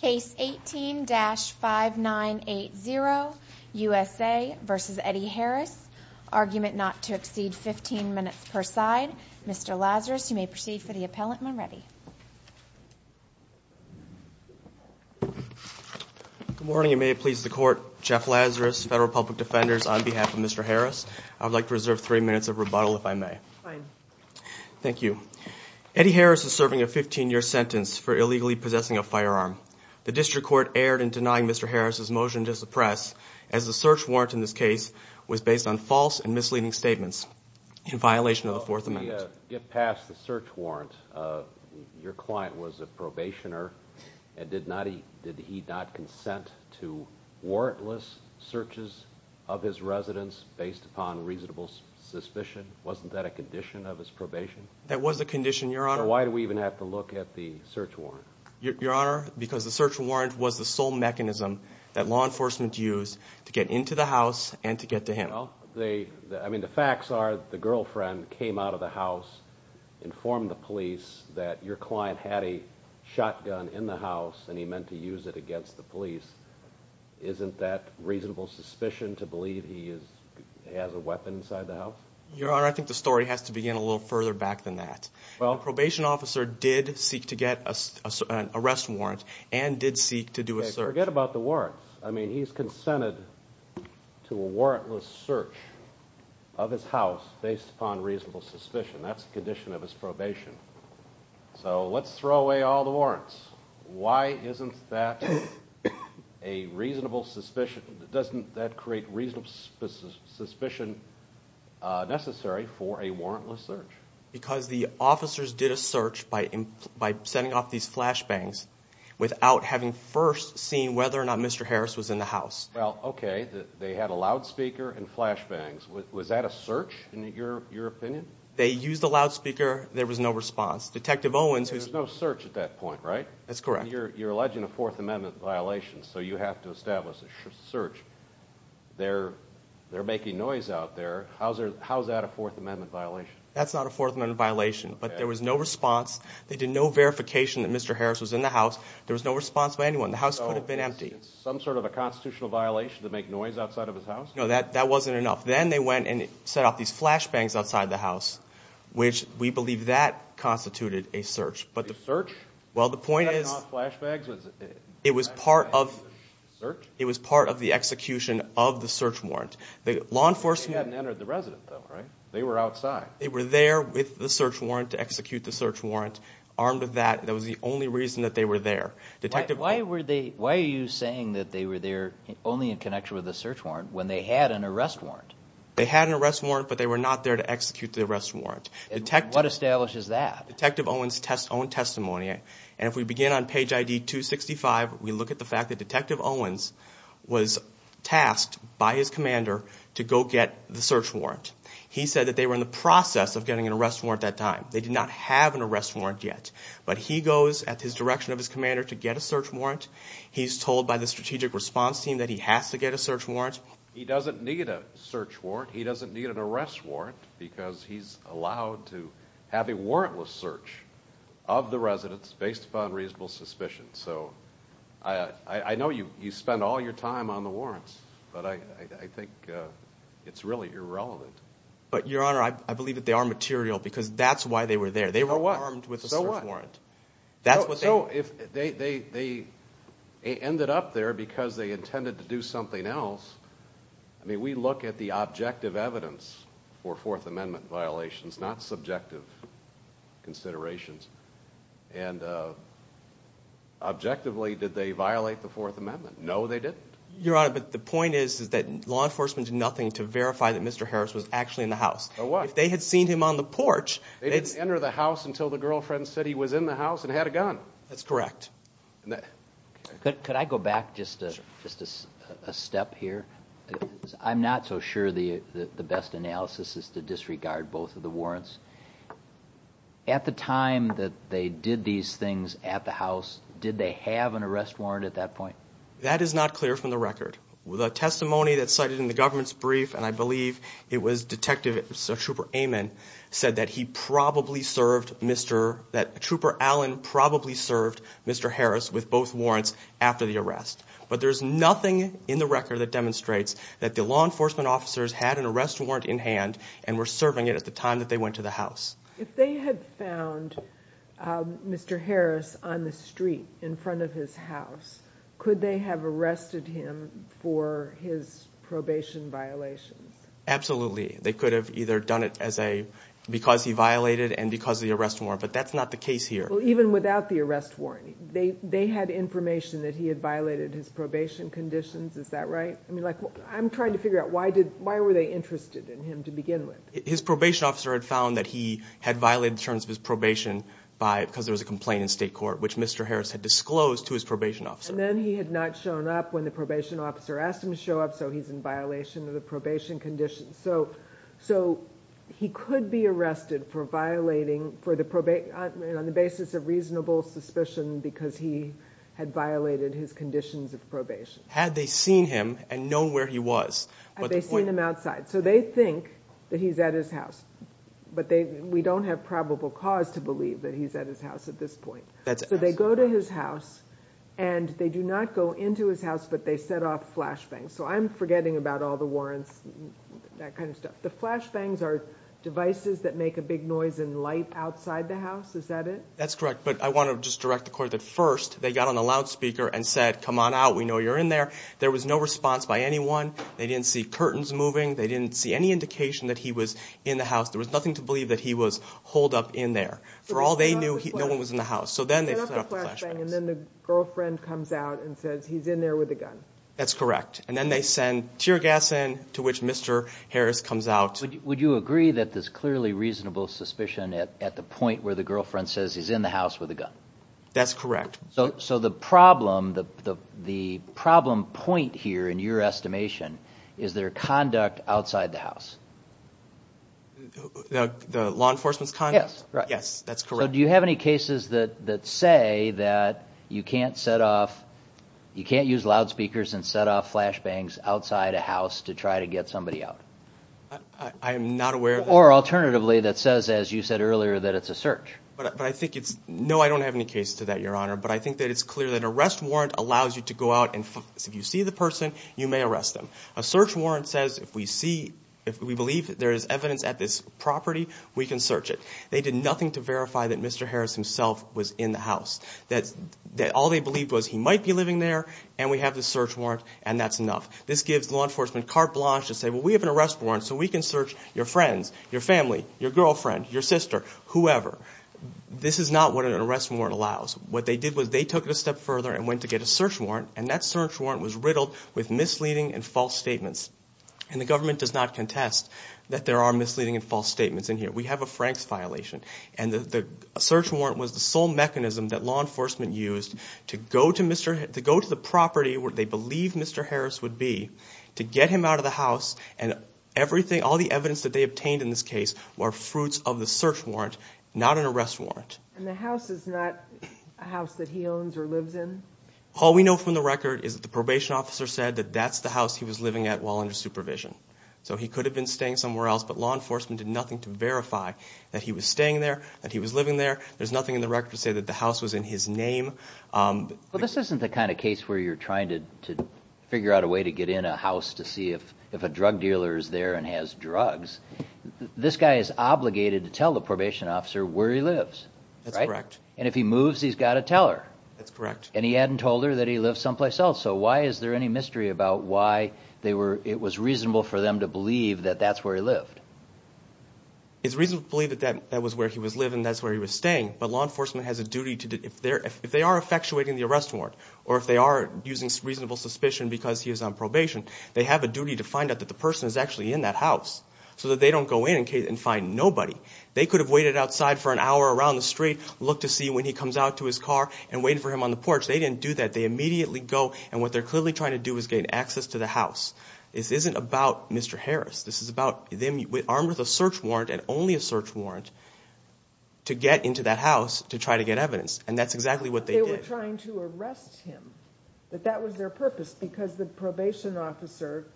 Case 18-5980, USA v. Eddie Harris, argument not to exceed 15 minutes per side. Mr. Lazarus, you may proceed for the appellant when ready. Good morning. It may please the Court. Jeff Lazarus, Federal Public Defenders, on behalf of Mr. Harris. I would like to reserve three minutes of rebuttal, if I may. Fine. Thank you. Eddie Harris is serving a 15-year sentence for illegally possessing a firearm. The District Court erred in denying Mr. Harris' motion to suppress, as the search warrant in this case was based on false and misleading statements in violation of the Fourth Amendment. Let me get past the search warrant. Your client was a probationer, and did he not consent to warrantless searches of his residence based upon reasonable suspicion? Wasn't that a condition of his probation? That was a condition, Your Honor. So why do we even have to look at the search warrant? Your Honor, because the search warrant was the sole mechanism that law enforcement used to get into the house and to get to him. Well, I mean, the facts are the girlfriend came out of the house, informed the police that your client had a shotgun in the house, and he meant to use it against the police. Isn't that reasonable suspicion to believe he has a weapon inside the house? Your Honor, I think the story has to begin a little further back than that. The probation officer did seek to get an arrest warrant and did seek to do a search. Forget about the warrants. I mean, he's consented to a warrantless search of his house based upon reasonable suspicion. That's a condition of his probation. So let's throw away all the warrants. Why isn't that a reasonable suspicion? Doesn't that create reasonable suspicion necessary for a warrantless search? Because the officers did a search by sending off these flashbangs without having first seen whether or not Mr. Harris was in the house. Well, okay. They had a loudspeaker and flashbangs. Was that a search, in your opinion? They used the loudspeaker. There was no response. There was no search at that point, right? That's correct. You're alleging a Fourth Amendment violation, so you have to establish a search. They're making noise out there. How is that a Fourth Amendment violation? That's not a Fourth Amendment violation, but there was no response. They did no verification that Mr. Harris was in the house. There was no response by anyone. The house could have been empty. So it's some sort of a constitutional violation to make noise outside of his house? No, that wasn't enough. Then they went and set off these flashbangs outside the house, which we believe that constituted a search. A search? Well, the point is it was part of the execution of the search warrant. They hadn't entered the residence, though, right? They were outside. They were there with the search warrant to execute the search warrant, armed with that. That was the only reason that they were there. Why are you saying that they were there only in connection with the search warrant when they had an arrest warrant? They had an arrest warrant, but they were not there to execute the arrest warrant. What establishes that? Detective Owens' own testimony. And if we begin on page ID 265, we look at the fact that Detective Owens was tasked by his commander to go get the search warrant. He said that they were in the process of getting an arrest warrant at that time. They did not have an arrest warrant yet. But he goes at his direction of his commander to get a search warrant. He's told by the strategic response team that he has to get a search warrant. He doesn't need a search warrant. He doesn't need an arrest warrant because he's allowed to have a warrantless search of the residence based upon reasonable suspicion. So I know you spend all your time on the warrants, but I think it's really irrelevant. But, Your Honor, I believe that they are material because that's why they were there. They were armed with a search warrant. So what? They ended up there because they intended to do something else. I mean, we look at the objective evidence for Fourth Amendment violations, not subjective considerations. And objectively, did they violate the Fourth Amendment? No, they didn't. Your Honor, but the point is that law enforcement did nothing to verify that Mr. Harris was actually in the house. So what? If they had seen him on the porch. They didn't enter the house until the girlfriend said he was in the house and had a gun. That's correct. Could I go back just a step here? I'm not so sure the best analysis is to disregard both of the warrants. At the time that they did these things at the house, did they have an arrest warrant at that point? That is not clear from the record. The testimony that's cited in the government's brief, and I believe it was Detective Trooper Amon, said that Trooper Allen probably served Mr. Harris with both warrants after the arrest. But there's nothing in the record that demonstrates that the law enforcement officers had an arrest warrant in hand and were serving it at the time that they went to the house. If they had found Mr. Harris on the street in front of his house, could they have arrested him for his probation violations? Absolutely. They could have either done it because he violated and because of the arrest warrant, but that's not the case here. Well, even without the arrest warrant, they had information that he had violated his probation conditions. Is that right? I'm trying to figure out why were they interested in him to begin with. His probation officer had found that he had violated the terms of his probation because there was a complaint in state court, which Mr. Harris had disclosed to his probation officer. And then he had not shown up when the probation officer asked him to show up, so he's in violation of the probation conditions. So he could be arrested on the basis of reasonable suspicion because he had violated his conditions of probation. Had they seen him and known where he was? Had they seen him outside? So they think that he's at his house, but we don't have probable cause to believe that he's at his house at this point. So they go to his house, and they do not go into his house, but they set off flashbangs. So I'm forgetting about all the warrants, that kind of stuff. The flashbangs are devices that make a big noise and light outside the house. Is that it? That's correct, but I want to just direct the court that first they got on a loudspeaker and said, come on out, we know you're in there. There was no response by anyone. They didn't see curtains moving. They didn't see any indication that he was in the house. There was nothing to believe that he was holed up in there. For all they knew, no one was in the house, so then they set off the flashbangs. And then the girlfriend comes out and says he's in there with a gun. That's correct. And then they send tear gas in, to which Mr. Harris comes out. Would you agree that there's clearly reasonable suspicion at the point where the girlfriend says he's in the house with a gun? That's correct. So the problem, the problem point here, in your estimation, is their conduct outside the house. The law enforcement's conduct? Yes. Yes, that's correct. So do you have any cases that say that you can't set off, you can't use loudspeakers and set off flashbangs outside a house to try to get somebody out? I am not aware of that. Or alternatively, that says, as you said earlier, that it's a search. But I think it's, no, I don't have any cases to that, Your Honor. But I think that it's clear that an arrest warrant allows you to go out and if you see the person, you may arrest them. A search warrant says if we see, if we believe there is evidence at this property, we can search it. They did nothing to verify that Mr. Harris himself was in the house. All they believed was he might be living there, and we have the search warrant, and that's enough. This gives law enforcement carte blanche to say, well, we have an arrest warrant, so we can search your friends, your family, your girlfriend, your sister, whoever. This is not what an arrest warrant allows. What they did was they took it a step further and went to get a search warrant, and that search warrant was riddled with misleading and false statements, and the government does not contest that there are misleading and false statements in here. We have a Franks violation, and the search warrant was the sole mechanism that law enforcement used to go to the property where they believed Mr. Harris would be to get him out of the house and everything, all the evidence that they obtained in this case were fruits of the search warrant, not an arrest warrant. And the house is not a house that he owns or lives in? All we know from the record is that the probation officer said that that's the house he was living at while under supervision, so he could have been staying somewhere else, but law enforcement did nothing to verify that he was staying there, that he was living there. There's nothing in the record to say that the house was in his name. But this isn't the kind of case where you're trying to figure out a way to get in a house to see if a drug dealer is there and has drugs. This guy is obligated to tell the probation officer where he lives, right? That's correct. And if he moves, he's got to tell her. That's correct. And he hadn't told her that he lived someplace else, so why is there any mystery about why it was reasonable for them to believe that that's where he lived? It's reasonable to believe that that was where he was living and that's where he was staying, but law enforcement has a duty to, if they are effectuating the arrest warrant, or if they are using reasonable suspicion because he is on probation, they have a duty to find out that the person is actually in that house so that they don't go in and find nobody. They could have waited outside for an hour around the street, looked to see when he comes out to his car, and waited for him on the porch. They didn't do that. They immediately go, and what they're clearly trying to do is gain access to the house. This isn't about Mr. Harris. This is about them armed with a search warrant and only a search warrant to get into that house to try to get evidence, and that's exactly what they did. They were trying to arrest him, that that was their purpose, because the probation officer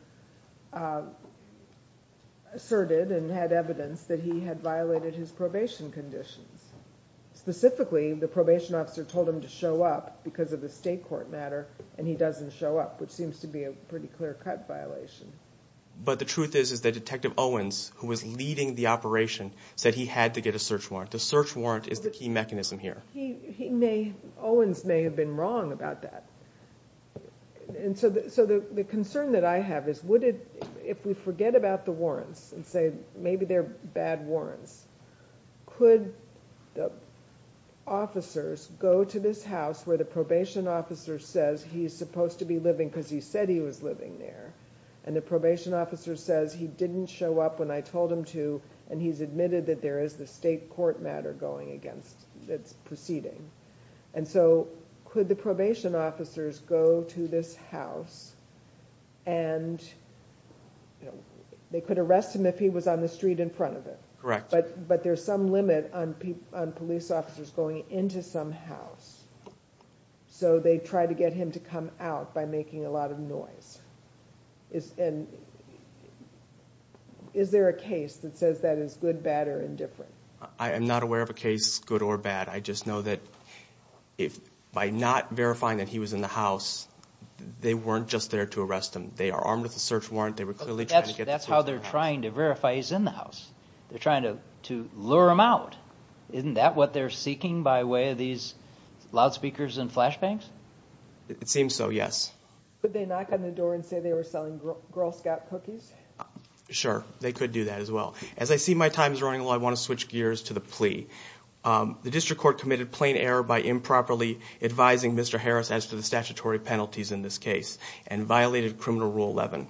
asserted and had evidence that he had violated his probation conditions. Specifically, the probation officer told him to show up because of a state court matter, and he doesn't show up, which seems to be a pretty clear-cut violation. But the truth is that Detective Owens, who was leading the operation, said he had to get a search warrant. The search warrant is the key mechanism here. Owens may have been wrong about that. The concern that I have is if we forget about the warrants and say maybe they're bad warrants, could the officers go to this house where the probation officer says he's supposed to be living because he said he was living there, and the probation officer says he didn't show up when I told him to, and he's admitted that there is this state court matter going against, that's proceeding. And so, could the probation officers go to this house and, you know, they could arrest him if he was on the street in front of them. Correct. But there's some limit on police officers going into some house, so they try to get him to come out by making a lot of noise. And is there a case that says that is good, bad, or indifferent? I am not aware of a case, good or bad. I just know that by not verifying that he was in the house, they weren't just there to arrest him. They are armed with a search warrant. They were clearly trying to get the police to come out. That's how they're trying to verify he's in the house. They're trying to lure him out. Isn't that what they're seeking by way of these loudspeakers and flashbangs? It seems so, yes. Could they knock on the door and say they were selling Girl Scout cookies? Sure, they could do that as well. As I see my time is running low, I want to switch gears to the plea. The district court committed plain error by improperly advising Mr. Harris as to the statutory penalties in this case and violated Criminal Rule 11.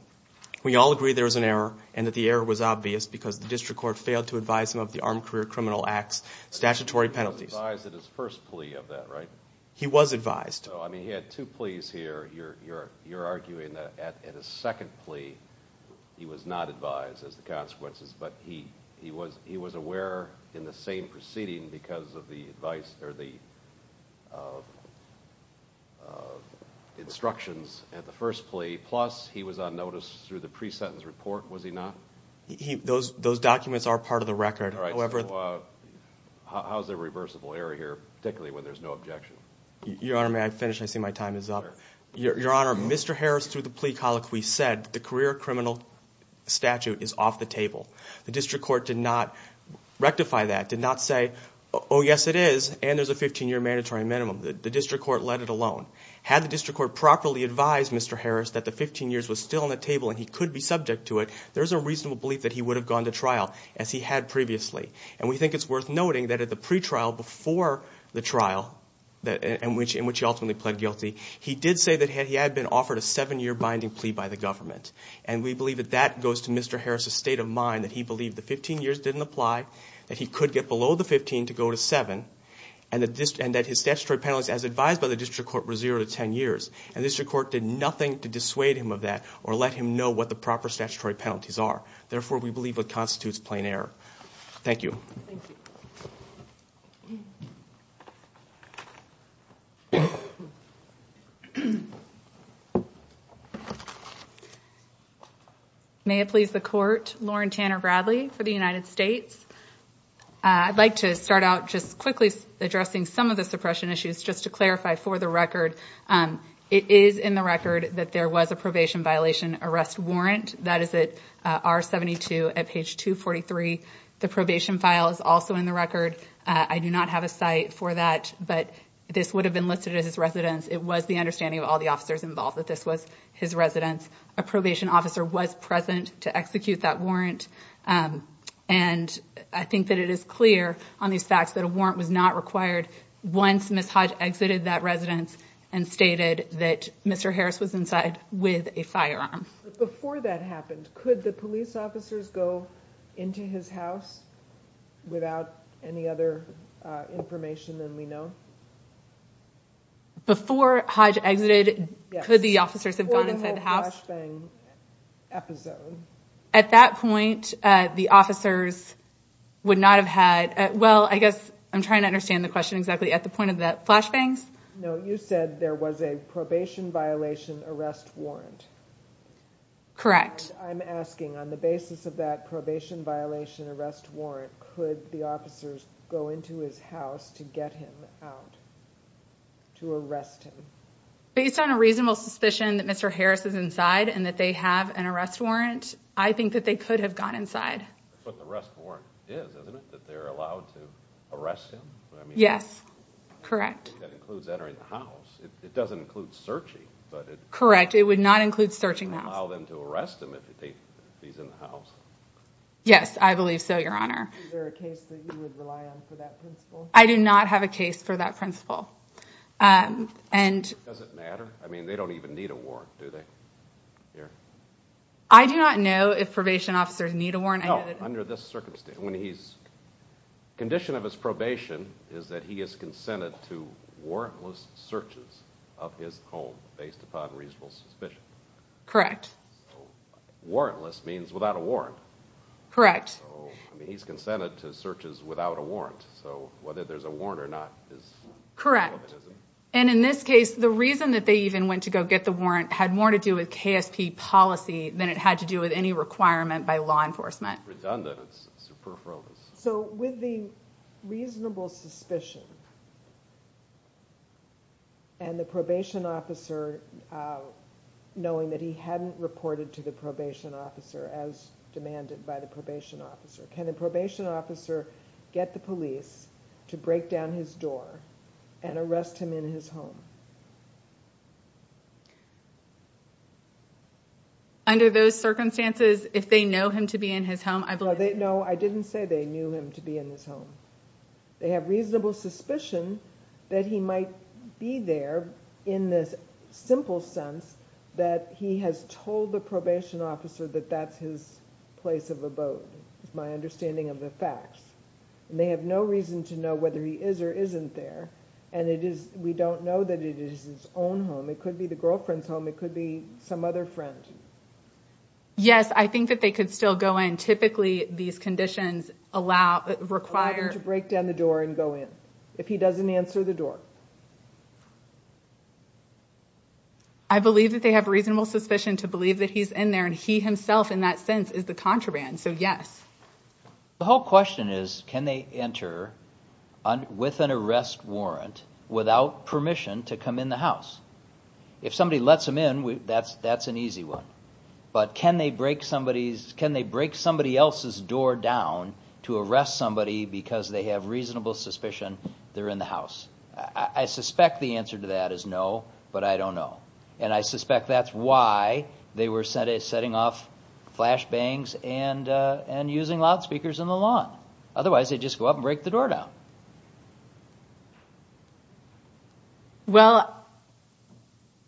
We all agree there was an error and that the error was obvious because the district court failed to advise him of the Armed Career Criminal Act's statutory penalties. He was advised at his first plea of that, right? He was advised. He had two pleas here. You're arguing that at his second plea, he was not advised as to the consequences, but he was aware in the same proceeding because of the instructions at the first plea, plus he was on notice through the pre-sentence report, was he not? Those documents are part of the record. How is there reversible error here, particularly when there's no objection? Your Honor, may I finish? I see my time is up. Your Honor, Mr. Harris, through the plea colloquy, said the career criminal statute is off the table. The district court did not rectify that, did not say, oh, yes, it is, and there's a 15-year mandatory minimum. The district court let it alone. Had the district court properly advised Mr. Harris that the 15 years was still on the table and he could be subject to it, there's a reasonable belief that he would have gone to trial, as he had previously. And we think it's worth noting that at the pretrial before the trial in which he ultimately pled guilty, he did say that he had been offered a seven-year binding plea by the government. And we believe that that goes to Mr. Harris' state of mind, that he believed the 15 years didn't apply, that he could get below the 15 to go to seven, and that his statutory penalties, as advised by the district court, were zero to 10 years. And the district court did nothing to dissuade him of that or let him know what the proper statutory penalties are. Therefore, we believe it constitutes plain error. Thank you. Thank you. May it please the Court. Lauren Tanner Bradley for the United States. I'd like to start out just quickly addressing some of the suppression issues, just to clarify for the record, it is in the record that there was a probation violation arrest warrant. That is at R-72 at page 243. The probation file is also in the record. I do not have a site for that, but this would have been listed as his residence. It was the understanding of all the officers involved that this was his residence. A probation officer was present to execute that warrant. And I think that it is clear on these facts that a warrant was not required once Ms. Hodge exited that residence and stated that Mr. Harris was inside with a firearm. Before that happened, could the police officers go into his house without any other information than we know? Before Hodge exited, could the officers have gone inside the house? Before the whole flashbang episode. At that point, the officers would not have had, well, I guess I'm trying to understand the question exactly, at the point of the flashbangs? No, you said there was a probation violation arrest warrant. Correct. I'm asking, on the basis of that probation violation arrest warrant, could the officers go into his house to get him out, to arrest him? Based on a reasonable suspicion that Mr. Harris is inside and that they have an arrest warrant, I think that they could have gone inside. That's what the arrest warrant is, isn't it? That they're allowed to arrest him? Yes, correct. That includes entering the house. It doesn't include searching. Correct, it would not include searching the house. It would allow them to arrest him if he's in the house. Yes, I believe so, Your Honor. Is there a case that you would rely on for that principle? I do not have a case for that principle. Does it matter? I mean, they don't even need a warrant, do they? I do not know if probation officers need a warrant. No, under this circumstance. The condition of his probation is that he is consented to warrantless searches of his home based upon reasonable suspicion. Correct. Warrantless means without a warrant. Correct. He's consented to searches without a warrant, so whether there's a warrant or not is... Correct. And in this case, the reason that they even went to go get the warrant had more to do with KSP policy than it had to do with any requirement by law enforcement. It's redundant. It's superfluous. So, with the reasonable suspicion, and the probation officer knowing that he hadn't reported to the probation officer as demanded by the probation officer, can the probation officer get the police to break down his door and arrest him in his home? Under those circumstances, if they know him to be in his home, I believe... No, I didn't say they knew him to be in his home. They have reasonable suspicion that he might be there in this simple sense that he has told the probation officer that that's his place of abode, is my understanding of the facts. And they have no reason to know whether he is or isn't there. And we don't know that it is his own home. It could be the girlfriend's home. It could be some other friend. Yes, I think that they could still go in. Typically, these conditions require... Require him to break down the door and go in, if he doesn't answer the door. I believe that they have reasonable suspicion to believe that he's in there, and he himself, in that sense, is the contraband, so yes. The whole question is, can they enter with an arrest warrant without permission to come in the house? If somebody lets them in, that's an easy one. But can they break somebody else's door down to arrest somebody because they have reasonable suspicion they're in the house? I suspect the answer to that is no, but I don't know. And I suspect that's why they were setting off flashbangs and using loudspeakers in the lawn. Otherwise, they'd just go up and break the door down. Well,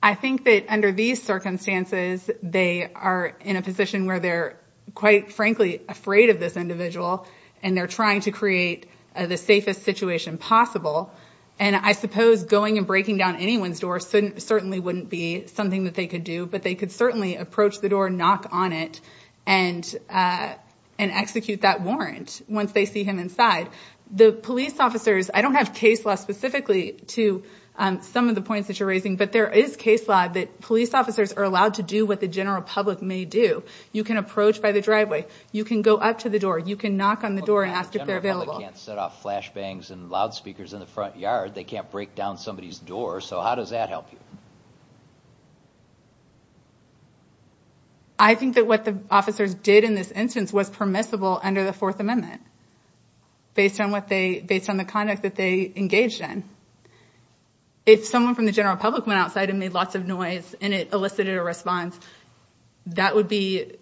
I think that under these circumstances, they are in a position where they're, quite frankly, afraid of this individual, and they're trying to create the safest situation possible. And I suppose going and breaking down anyone's door certainly wouldn't be something that they could do, but they could certainly approach the door, knock on it, and execute that warrant once they see him inside. The police officers, I don't have case law specifically to some of the points that you're raising, but there is case law that police officers are allowed to do what the general public may do. You can approach by the driveway. You can go up to the door. You can knock on the door and ask if they're available. But the general public can't set off flashbangs and loudspeakers in the front yard. They can't break down somebody's door. So how does that help you? I think that what the officers did in this instance was permissible under the Fourth Amendment, based on the conduct that they engaged in. If someone from the general public went outside and made lots of noise and it elicited a response, that would be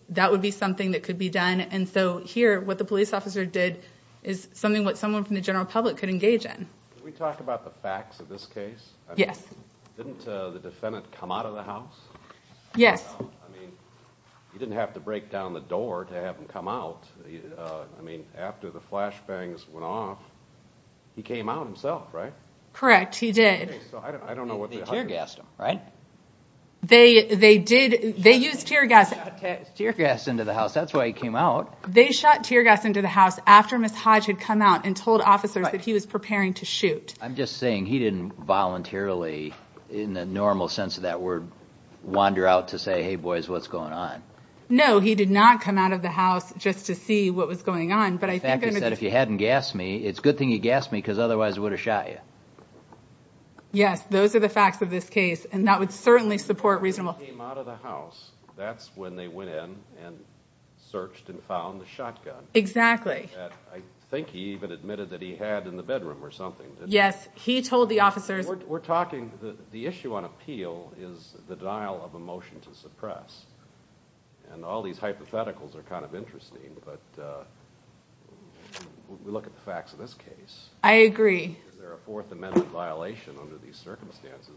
something that could be done. And so here, what the police officer did is something that someone from the general public could engage in. Can we talk about the facts of this case? Yes. Didn't the defendant come out of the house? Yes. I mean, he didn't have to break down the door to have him come out. I mean, after the flashbangs went off, he came out himself, right? Correct, he did. Okay, so I don't know what the... They tear-gassed him, right? They did. They used tear gas... He shot tear gas into the house. That's why he came out. They shot tear gas into the house after Ms. Hodge had come out and told officers that he was preparing to shoot. I'm just saying he didn't voluntarily, in the normal sense of that word, wander out to say, hey boys, what's going on? No, he did not come out of the house just to see what was going on. In fact, he said, if you hadn't gassed me, it's a good thing you gassed me because otherwise I would have shot you. Yes, those are the facts of this case, and that would certainly support reasonable... He came out of the house. That's when they went in and searched and found the shotgun. Exactly. I think he even admitted that he had in the bedroom or something. Yes, he told the officers... We're talking, the issue on appeal is the denial of a motion to suppress, and all these hypotheticals are kind of interesting, but we look at the facts of this case. I agree. Is there a Fourth Amendment violation under these circumstances?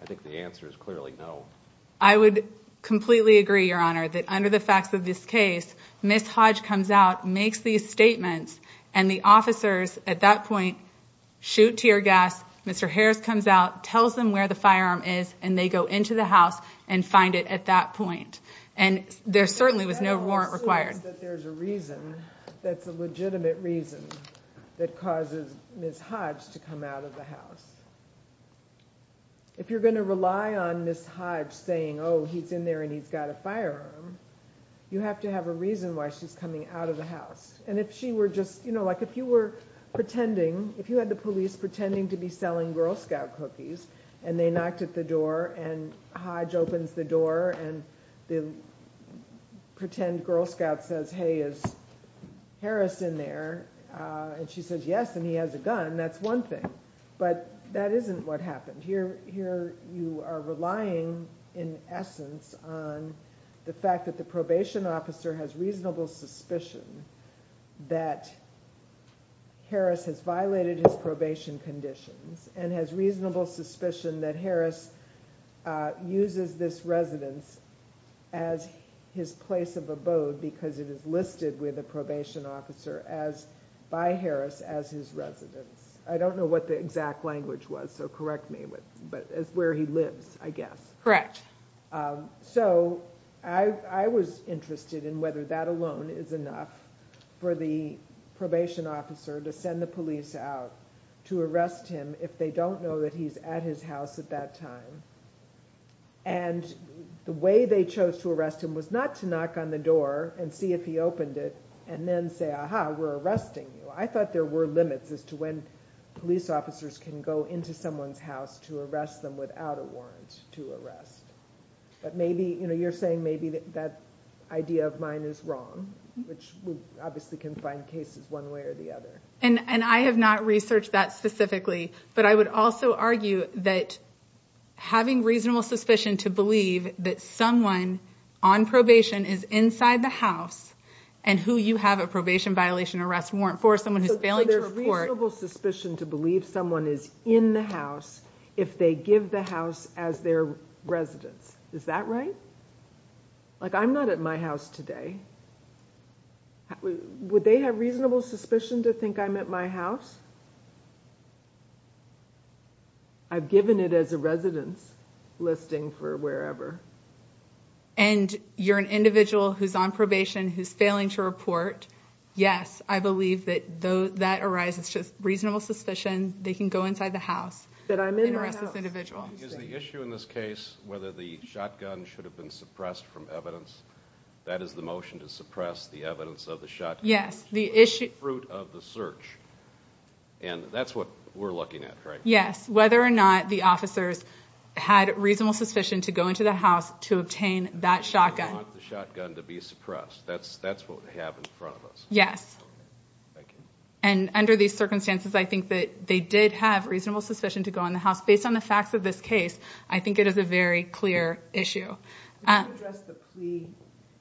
I think the answer is clearly no. I would completely agree, Your Honor, that under the facts of this case, Ms. Hodge comes out, makes these statements, and the officers at that point shoot tear gas. Mr. Harris comes out, tells them where the firearm is, and they go into the house and find it at that point. There certainly was no warrant required. I don't assume that there's a reason, that's a legitimate reason, that causes Ms. Hodge to come out of the house. If you're going to rely on Ms. Hodge saying, oh, he's in there and he's got a firearm, you have to have a reason why she's coming out of the house. And if she were just, you know, like if you were pretending, if you had the police pretending to be selling Girl Scout cookies, and they knocked at the door, and Hodge opens the door, and the pretend Girl Scout says, hey, is Harris in there? And she says, yes, and he has a gun. That's one thing. But that isn't what happened. Here you are relying in essence on the fact that the probation officer has reasonable suspicion that Harris has violated his probation conditions and has reasonable suspicion that Harris uses this residence as his place of abode because it is listed with a probation officer by Harris as his residence. I don't know what the exact language was, so correct me. But it's where he lives, I guess. Correct. So I was interested in whether that alone is enough for the probation officer to send the police out to arrest him if they don't know that he's at his house at that time. And the way they chose to arrest him was not to knock on the door and see if he opened it and then say, aha, we're arresting you. I thought there were limits as to when police officers can go into someone's house to arrest them without a warrant to arrest. But maybe, you know, you're saying maybe that idea of mine is wrong, which we obviously can find cases one way or the other. And I have not researched that specifically, but I would also argue that having reasonable suspicion to believe that someone on probation is inside the house and who you have a probation violation arrest warrant for, someone who's failing to report. So there's reasonable suspicion to believe someone is in the house if they give the house as their residence. Is that right? Like, I'm not at my house today. Would they have reasonable suspicion to think I'm at my house? I've given it as a residence listing for wherever. And you're an individual who's on probation who's failing to report. Yes, I believe that that arises to reasonable suspicion. They can go inside the house and arrest this individual. Is the issue in this case whether the shotgun should have been suppressed from evidence? That is the motion to suppress the evidence of the shotgun. Yes, the issue of the search. And that's what we're looking at, right? Yes. Whether or not the officers had reasonable suspicion to go into the house to obtain that shotgun. They want the shotgun to be suppressed. That's what we have in front of us. Yes. Thank you. And under these circumstances, I think that they did have reasonable suspicion to go in the house. Based on the facts of this case, I think it is a very clear issue. Could you address the plea?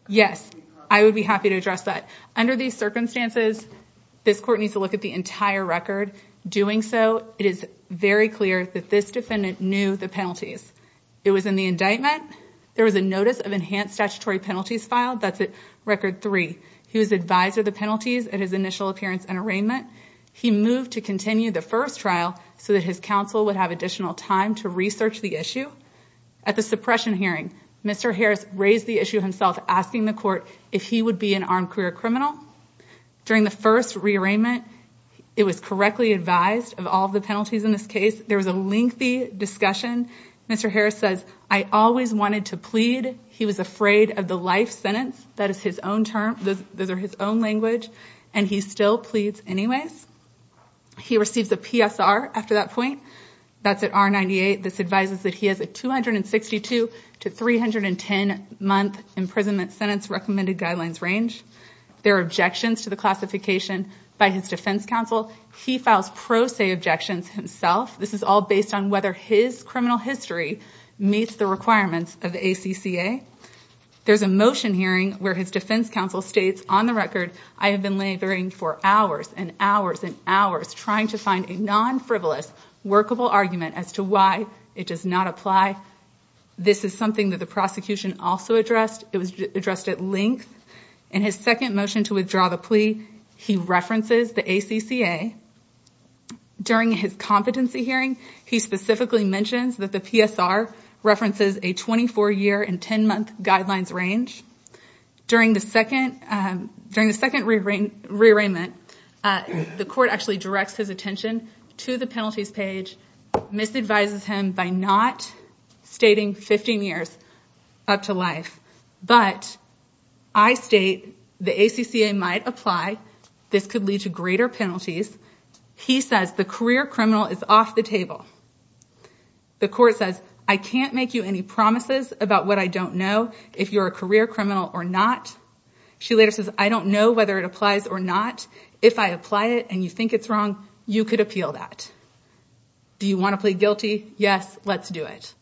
Yes, I would be happy to address that. Under these circumstances, this court needs to look at the entire record. Doing so, it is very clear that this defendant knew the penalties. It was in the indictment. There was a notice of enhanced statutory penalties filed. That's at record three. He was advised of the penalties at his initial appearance and arraignment. He moved to continue the first trial so that his counsel would have additional time to research the issue. At the suppression hearing, Mr. Harris raised the issue himself, asking the court if he would be an armed career criminal. During the first rearrangement, it was correctly advised of all the penalties in this case. There was a lengthy discussion. Mr. Harris says, I always wanted to plead. He was afraid of the life sentence. That is his own term. Those are his own language. And he still pleads anyways. He receives a PSR after that point. That's at R98. This advises that he has a 262 to 310 month imprisonment sentence recommended guidelines range. There are objections to the classification by his defense counsel. He files pro se objections himself. This is all based on whether his criminal history meets the requirements of the ACCA. There's a motion hearing where his defense counsel states, on the record, I have been laboring for hours and hours and hours trying to find a non-frivolous workable argument as to why it does not apply. This is something that the prosecution also addressed. It was addressed at length. In his second motion to withdraw the plea, he references the ACCA. During his competency hearing, he specifically mentions that the PSR references a 24-year and 10-month guidelines range. During the second rearrangement, the court actually directs his attention to the penalties page, misadvises him by not stating 15 years up to life. But I state the ACCA might apply. This could lead to greater penalties. He says the career criminal is off the table. The court says, I can't make you any promises about what I don't know if you're a career criminal or not. She later says, I don't know whether it applies or not. If I apply it and you think it's wrong, you could appeal that. Do you want to plead guilty? Yes, let's do it.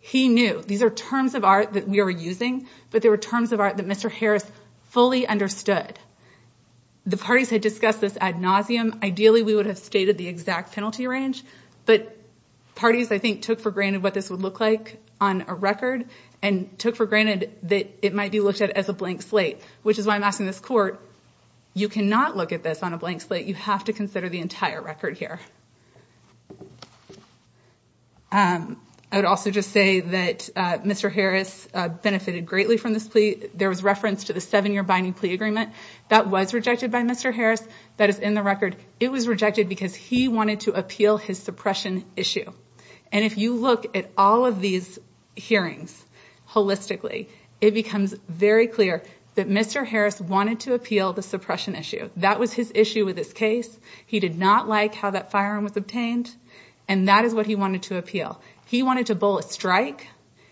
He knew. These are terms of art that we were using, but they were terms of art that Mr. Harris fully understood. The parties had discussed this ad nauseum. Ideally, we would have stated the exact penalty range, but parties, I think, took for granted what this would look like on a record and took for granted that it might be looked at as a blank slate, which is why I'm asking this court, you cannot look at this on a blank slate. You have to consider the entire record here. I would also just say that Mr. Harris benefited greatly from this plea. There was reference to the seven-year binding plea agreement. That was rejected by Mr. Harris. That is in the record. It was rejected because he wanted to appeal his suppression issue. If you look at all of these hearings holistically, it becomes very clear that Mr. Harris wanted to appeal the suppression issue. That was his issue with this case. He did not like how that firearm was obtained, and that is what he wanted to appeal. He wanted to bowl a strike.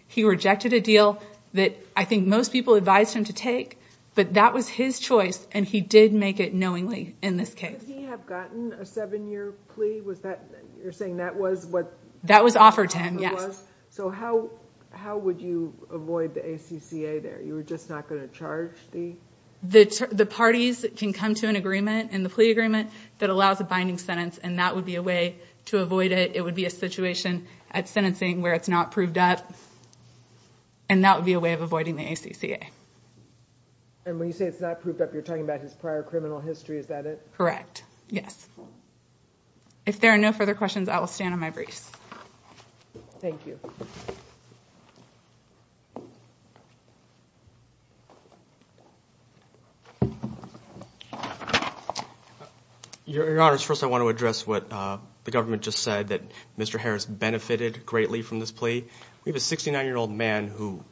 He rejected a deal that I think most people advised him to take, but that was his choice, and he did make it knowingly in this case. Did he have gotten a seven-year plea? You're saying that was what— That was offered to him, yes. How would you avoid the ACCA there? You were just not going to charge the— The parties can come to an agreement in the plea agreement that allows a binding sentence, and that would be a way to avoid it. It would be a situation at sentencing where it's not proved up, and that would be a way of avoiding the ACCA. When you say it's not proved up, you're talking about his prior criminal history. Is that it? Correct, yes. If there are no further questions, I will stand on my briefs. Thank you. Your Honors, first I want to address what the government just said, that Mr. Harris benefited greatly from this plea. We have a 69-year-old man who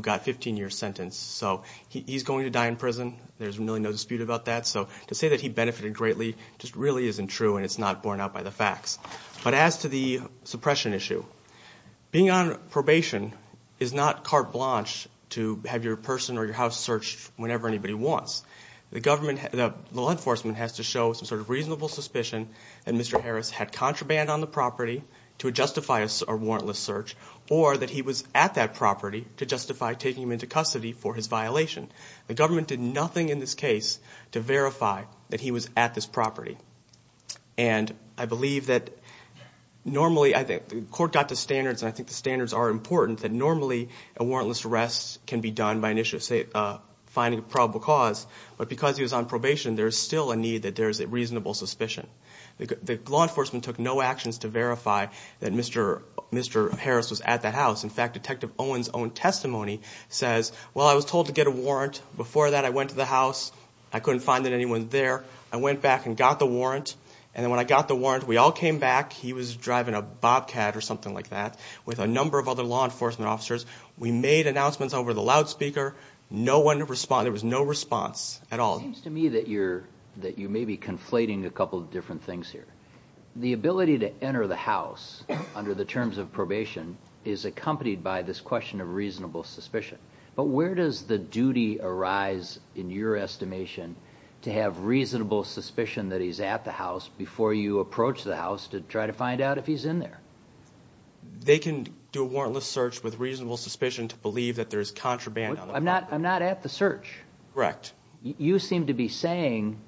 got a 15-year sentence, so he's going to die in prison. There's really no dispute about that, so to say that he benefited greatly just really isn't true, and it's not borne out by the facts. But as to the suppression issue, being on probation is not carte blanche to have your person or your house searched whenever anybody wants. The law enforcement has to show some sort of reasonable suspicion that Mr. Harris had contraband on the property to justify a warrantless search, or that he was at that property to justify taking him into custody for his violation. The government did nothing in this case to verify that he was at this property. And I believe that normally, the court got the standards, and I think the standards are important, that normally a warrantless arrest can be done by finding a probable cause, but because he was on probation, there's still a need that there's a reasonable suspicion. The law enforcement took no actions to verify that Mr. Harris was at that house. In fact, Detective Owen's own testimony says, well, I was told to get a warrant. Before that, I went to the house. I couldn't find anyone there. I went back and got the warrant, and then when I got the warrant, we all came back. He was driving a Bobcat or something like that with a number of other law enforcement officers. We made announcements over the loudspeaker. There was no response at all. It seems to me that you may be conflating a couple of different things here. The ability to enter the house under the terms of probation is accompanied by this question of reasonable suspicion. But where does the duty arise, in your estimation, to have reasonable suspicion that he's at the house before you approach the house to try to find out if he's in there? They can do a warrantless search with reasonable suspicion to believe that there's contraband on the property. I'm not at the search. Correct. You seem to be saying,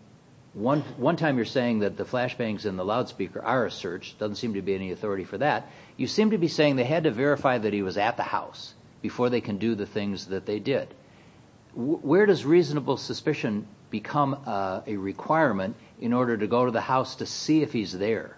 one time you're saying that the flashbangs in the loudspeaker are a search. There doesn't seem to be any authority for that. You seem to be saying they had to verify that he was at the house before they can do the things that they did. Where does reasonable suspicion become a requirement in order to go to the house to see if he's there?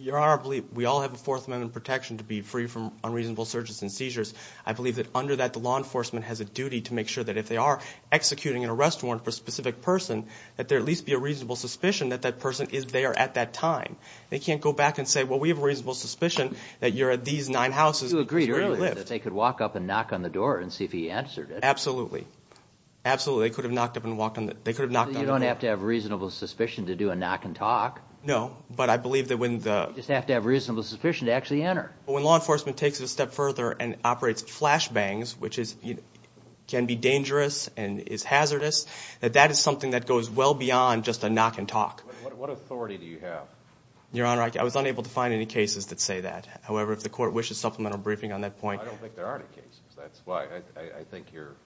Your Honor, we all have a Fourth Amendment protection to be free from unreasonable searches and seizures. I believe that under that, the law enforcement has a duty to make sure that if they are executing an arrest warrant for a specific person, that there at least be a reasonable suspicion that that person is there at that time. They can't go back and say, well, we have a reasonable suspicion that you're at these nine houses. You agreed earlier that they could walk up and knock on the door and see if he answered it. Absolutely. Absolutely. They could have knocked on the door. You don't have to have reasonable suspicion to do a knock and talk. No, but I believe that when the... You just have to have reasonable suspicion to actually enter. When law enforcement takes it a step further and operates flashbangs, which can be dangerous and is hazardous, that that is something that goes well beyond just a knock and talk. What authority do you have? Your Honor, I was unable to find any cases that say that. However, if the court wishes supplemental briefing on that point... I don't think there are any cases. That's why I think you're...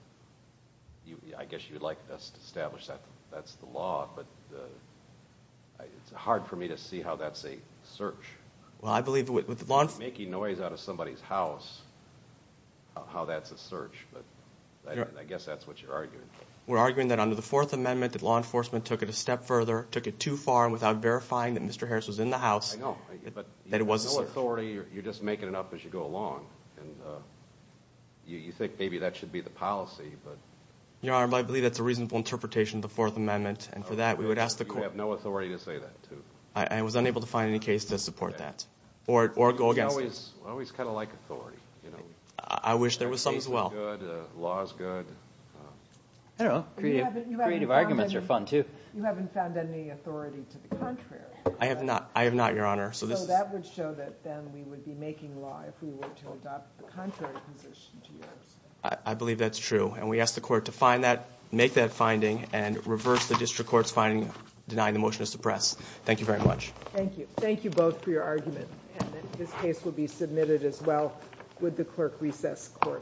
I guess you'd like us to establish that that's the law, but it's hard for me to see how that's a search. Well, I believe with the law enforcement... I guess that's what you're arguing. We're arguing that under the Fourth Amendment, that law enforcement took it a step further, took it too far without verifying that Mr. Harris was in the house, that it was a search. I know, but you have no authority. You're just making it up as you go along, and you think maybe that should be the policy, but... Your Honor, I believe that's a reasonable interpretation of the Fourth Amendment, and for that we would ask the court... You have no authority to say that, too. I was unable to find any case to support that or go against it. We always kind of like authority. I wish there was some as well. Law is good. I don't know. Creative arguments are fun, too. You haven't found any authority to the contrary. I have not, Your Honor. So that would show that then we would be making law if we were to adopt the contrary position to yours. I believe that's true, and we ask the court to find that, make that finding, and reverse the district court's finding denying the motion to suppress. Thank you very much. Thank you. Thank you both for your argument, and that this case will be submitted as well with the clerk recess court.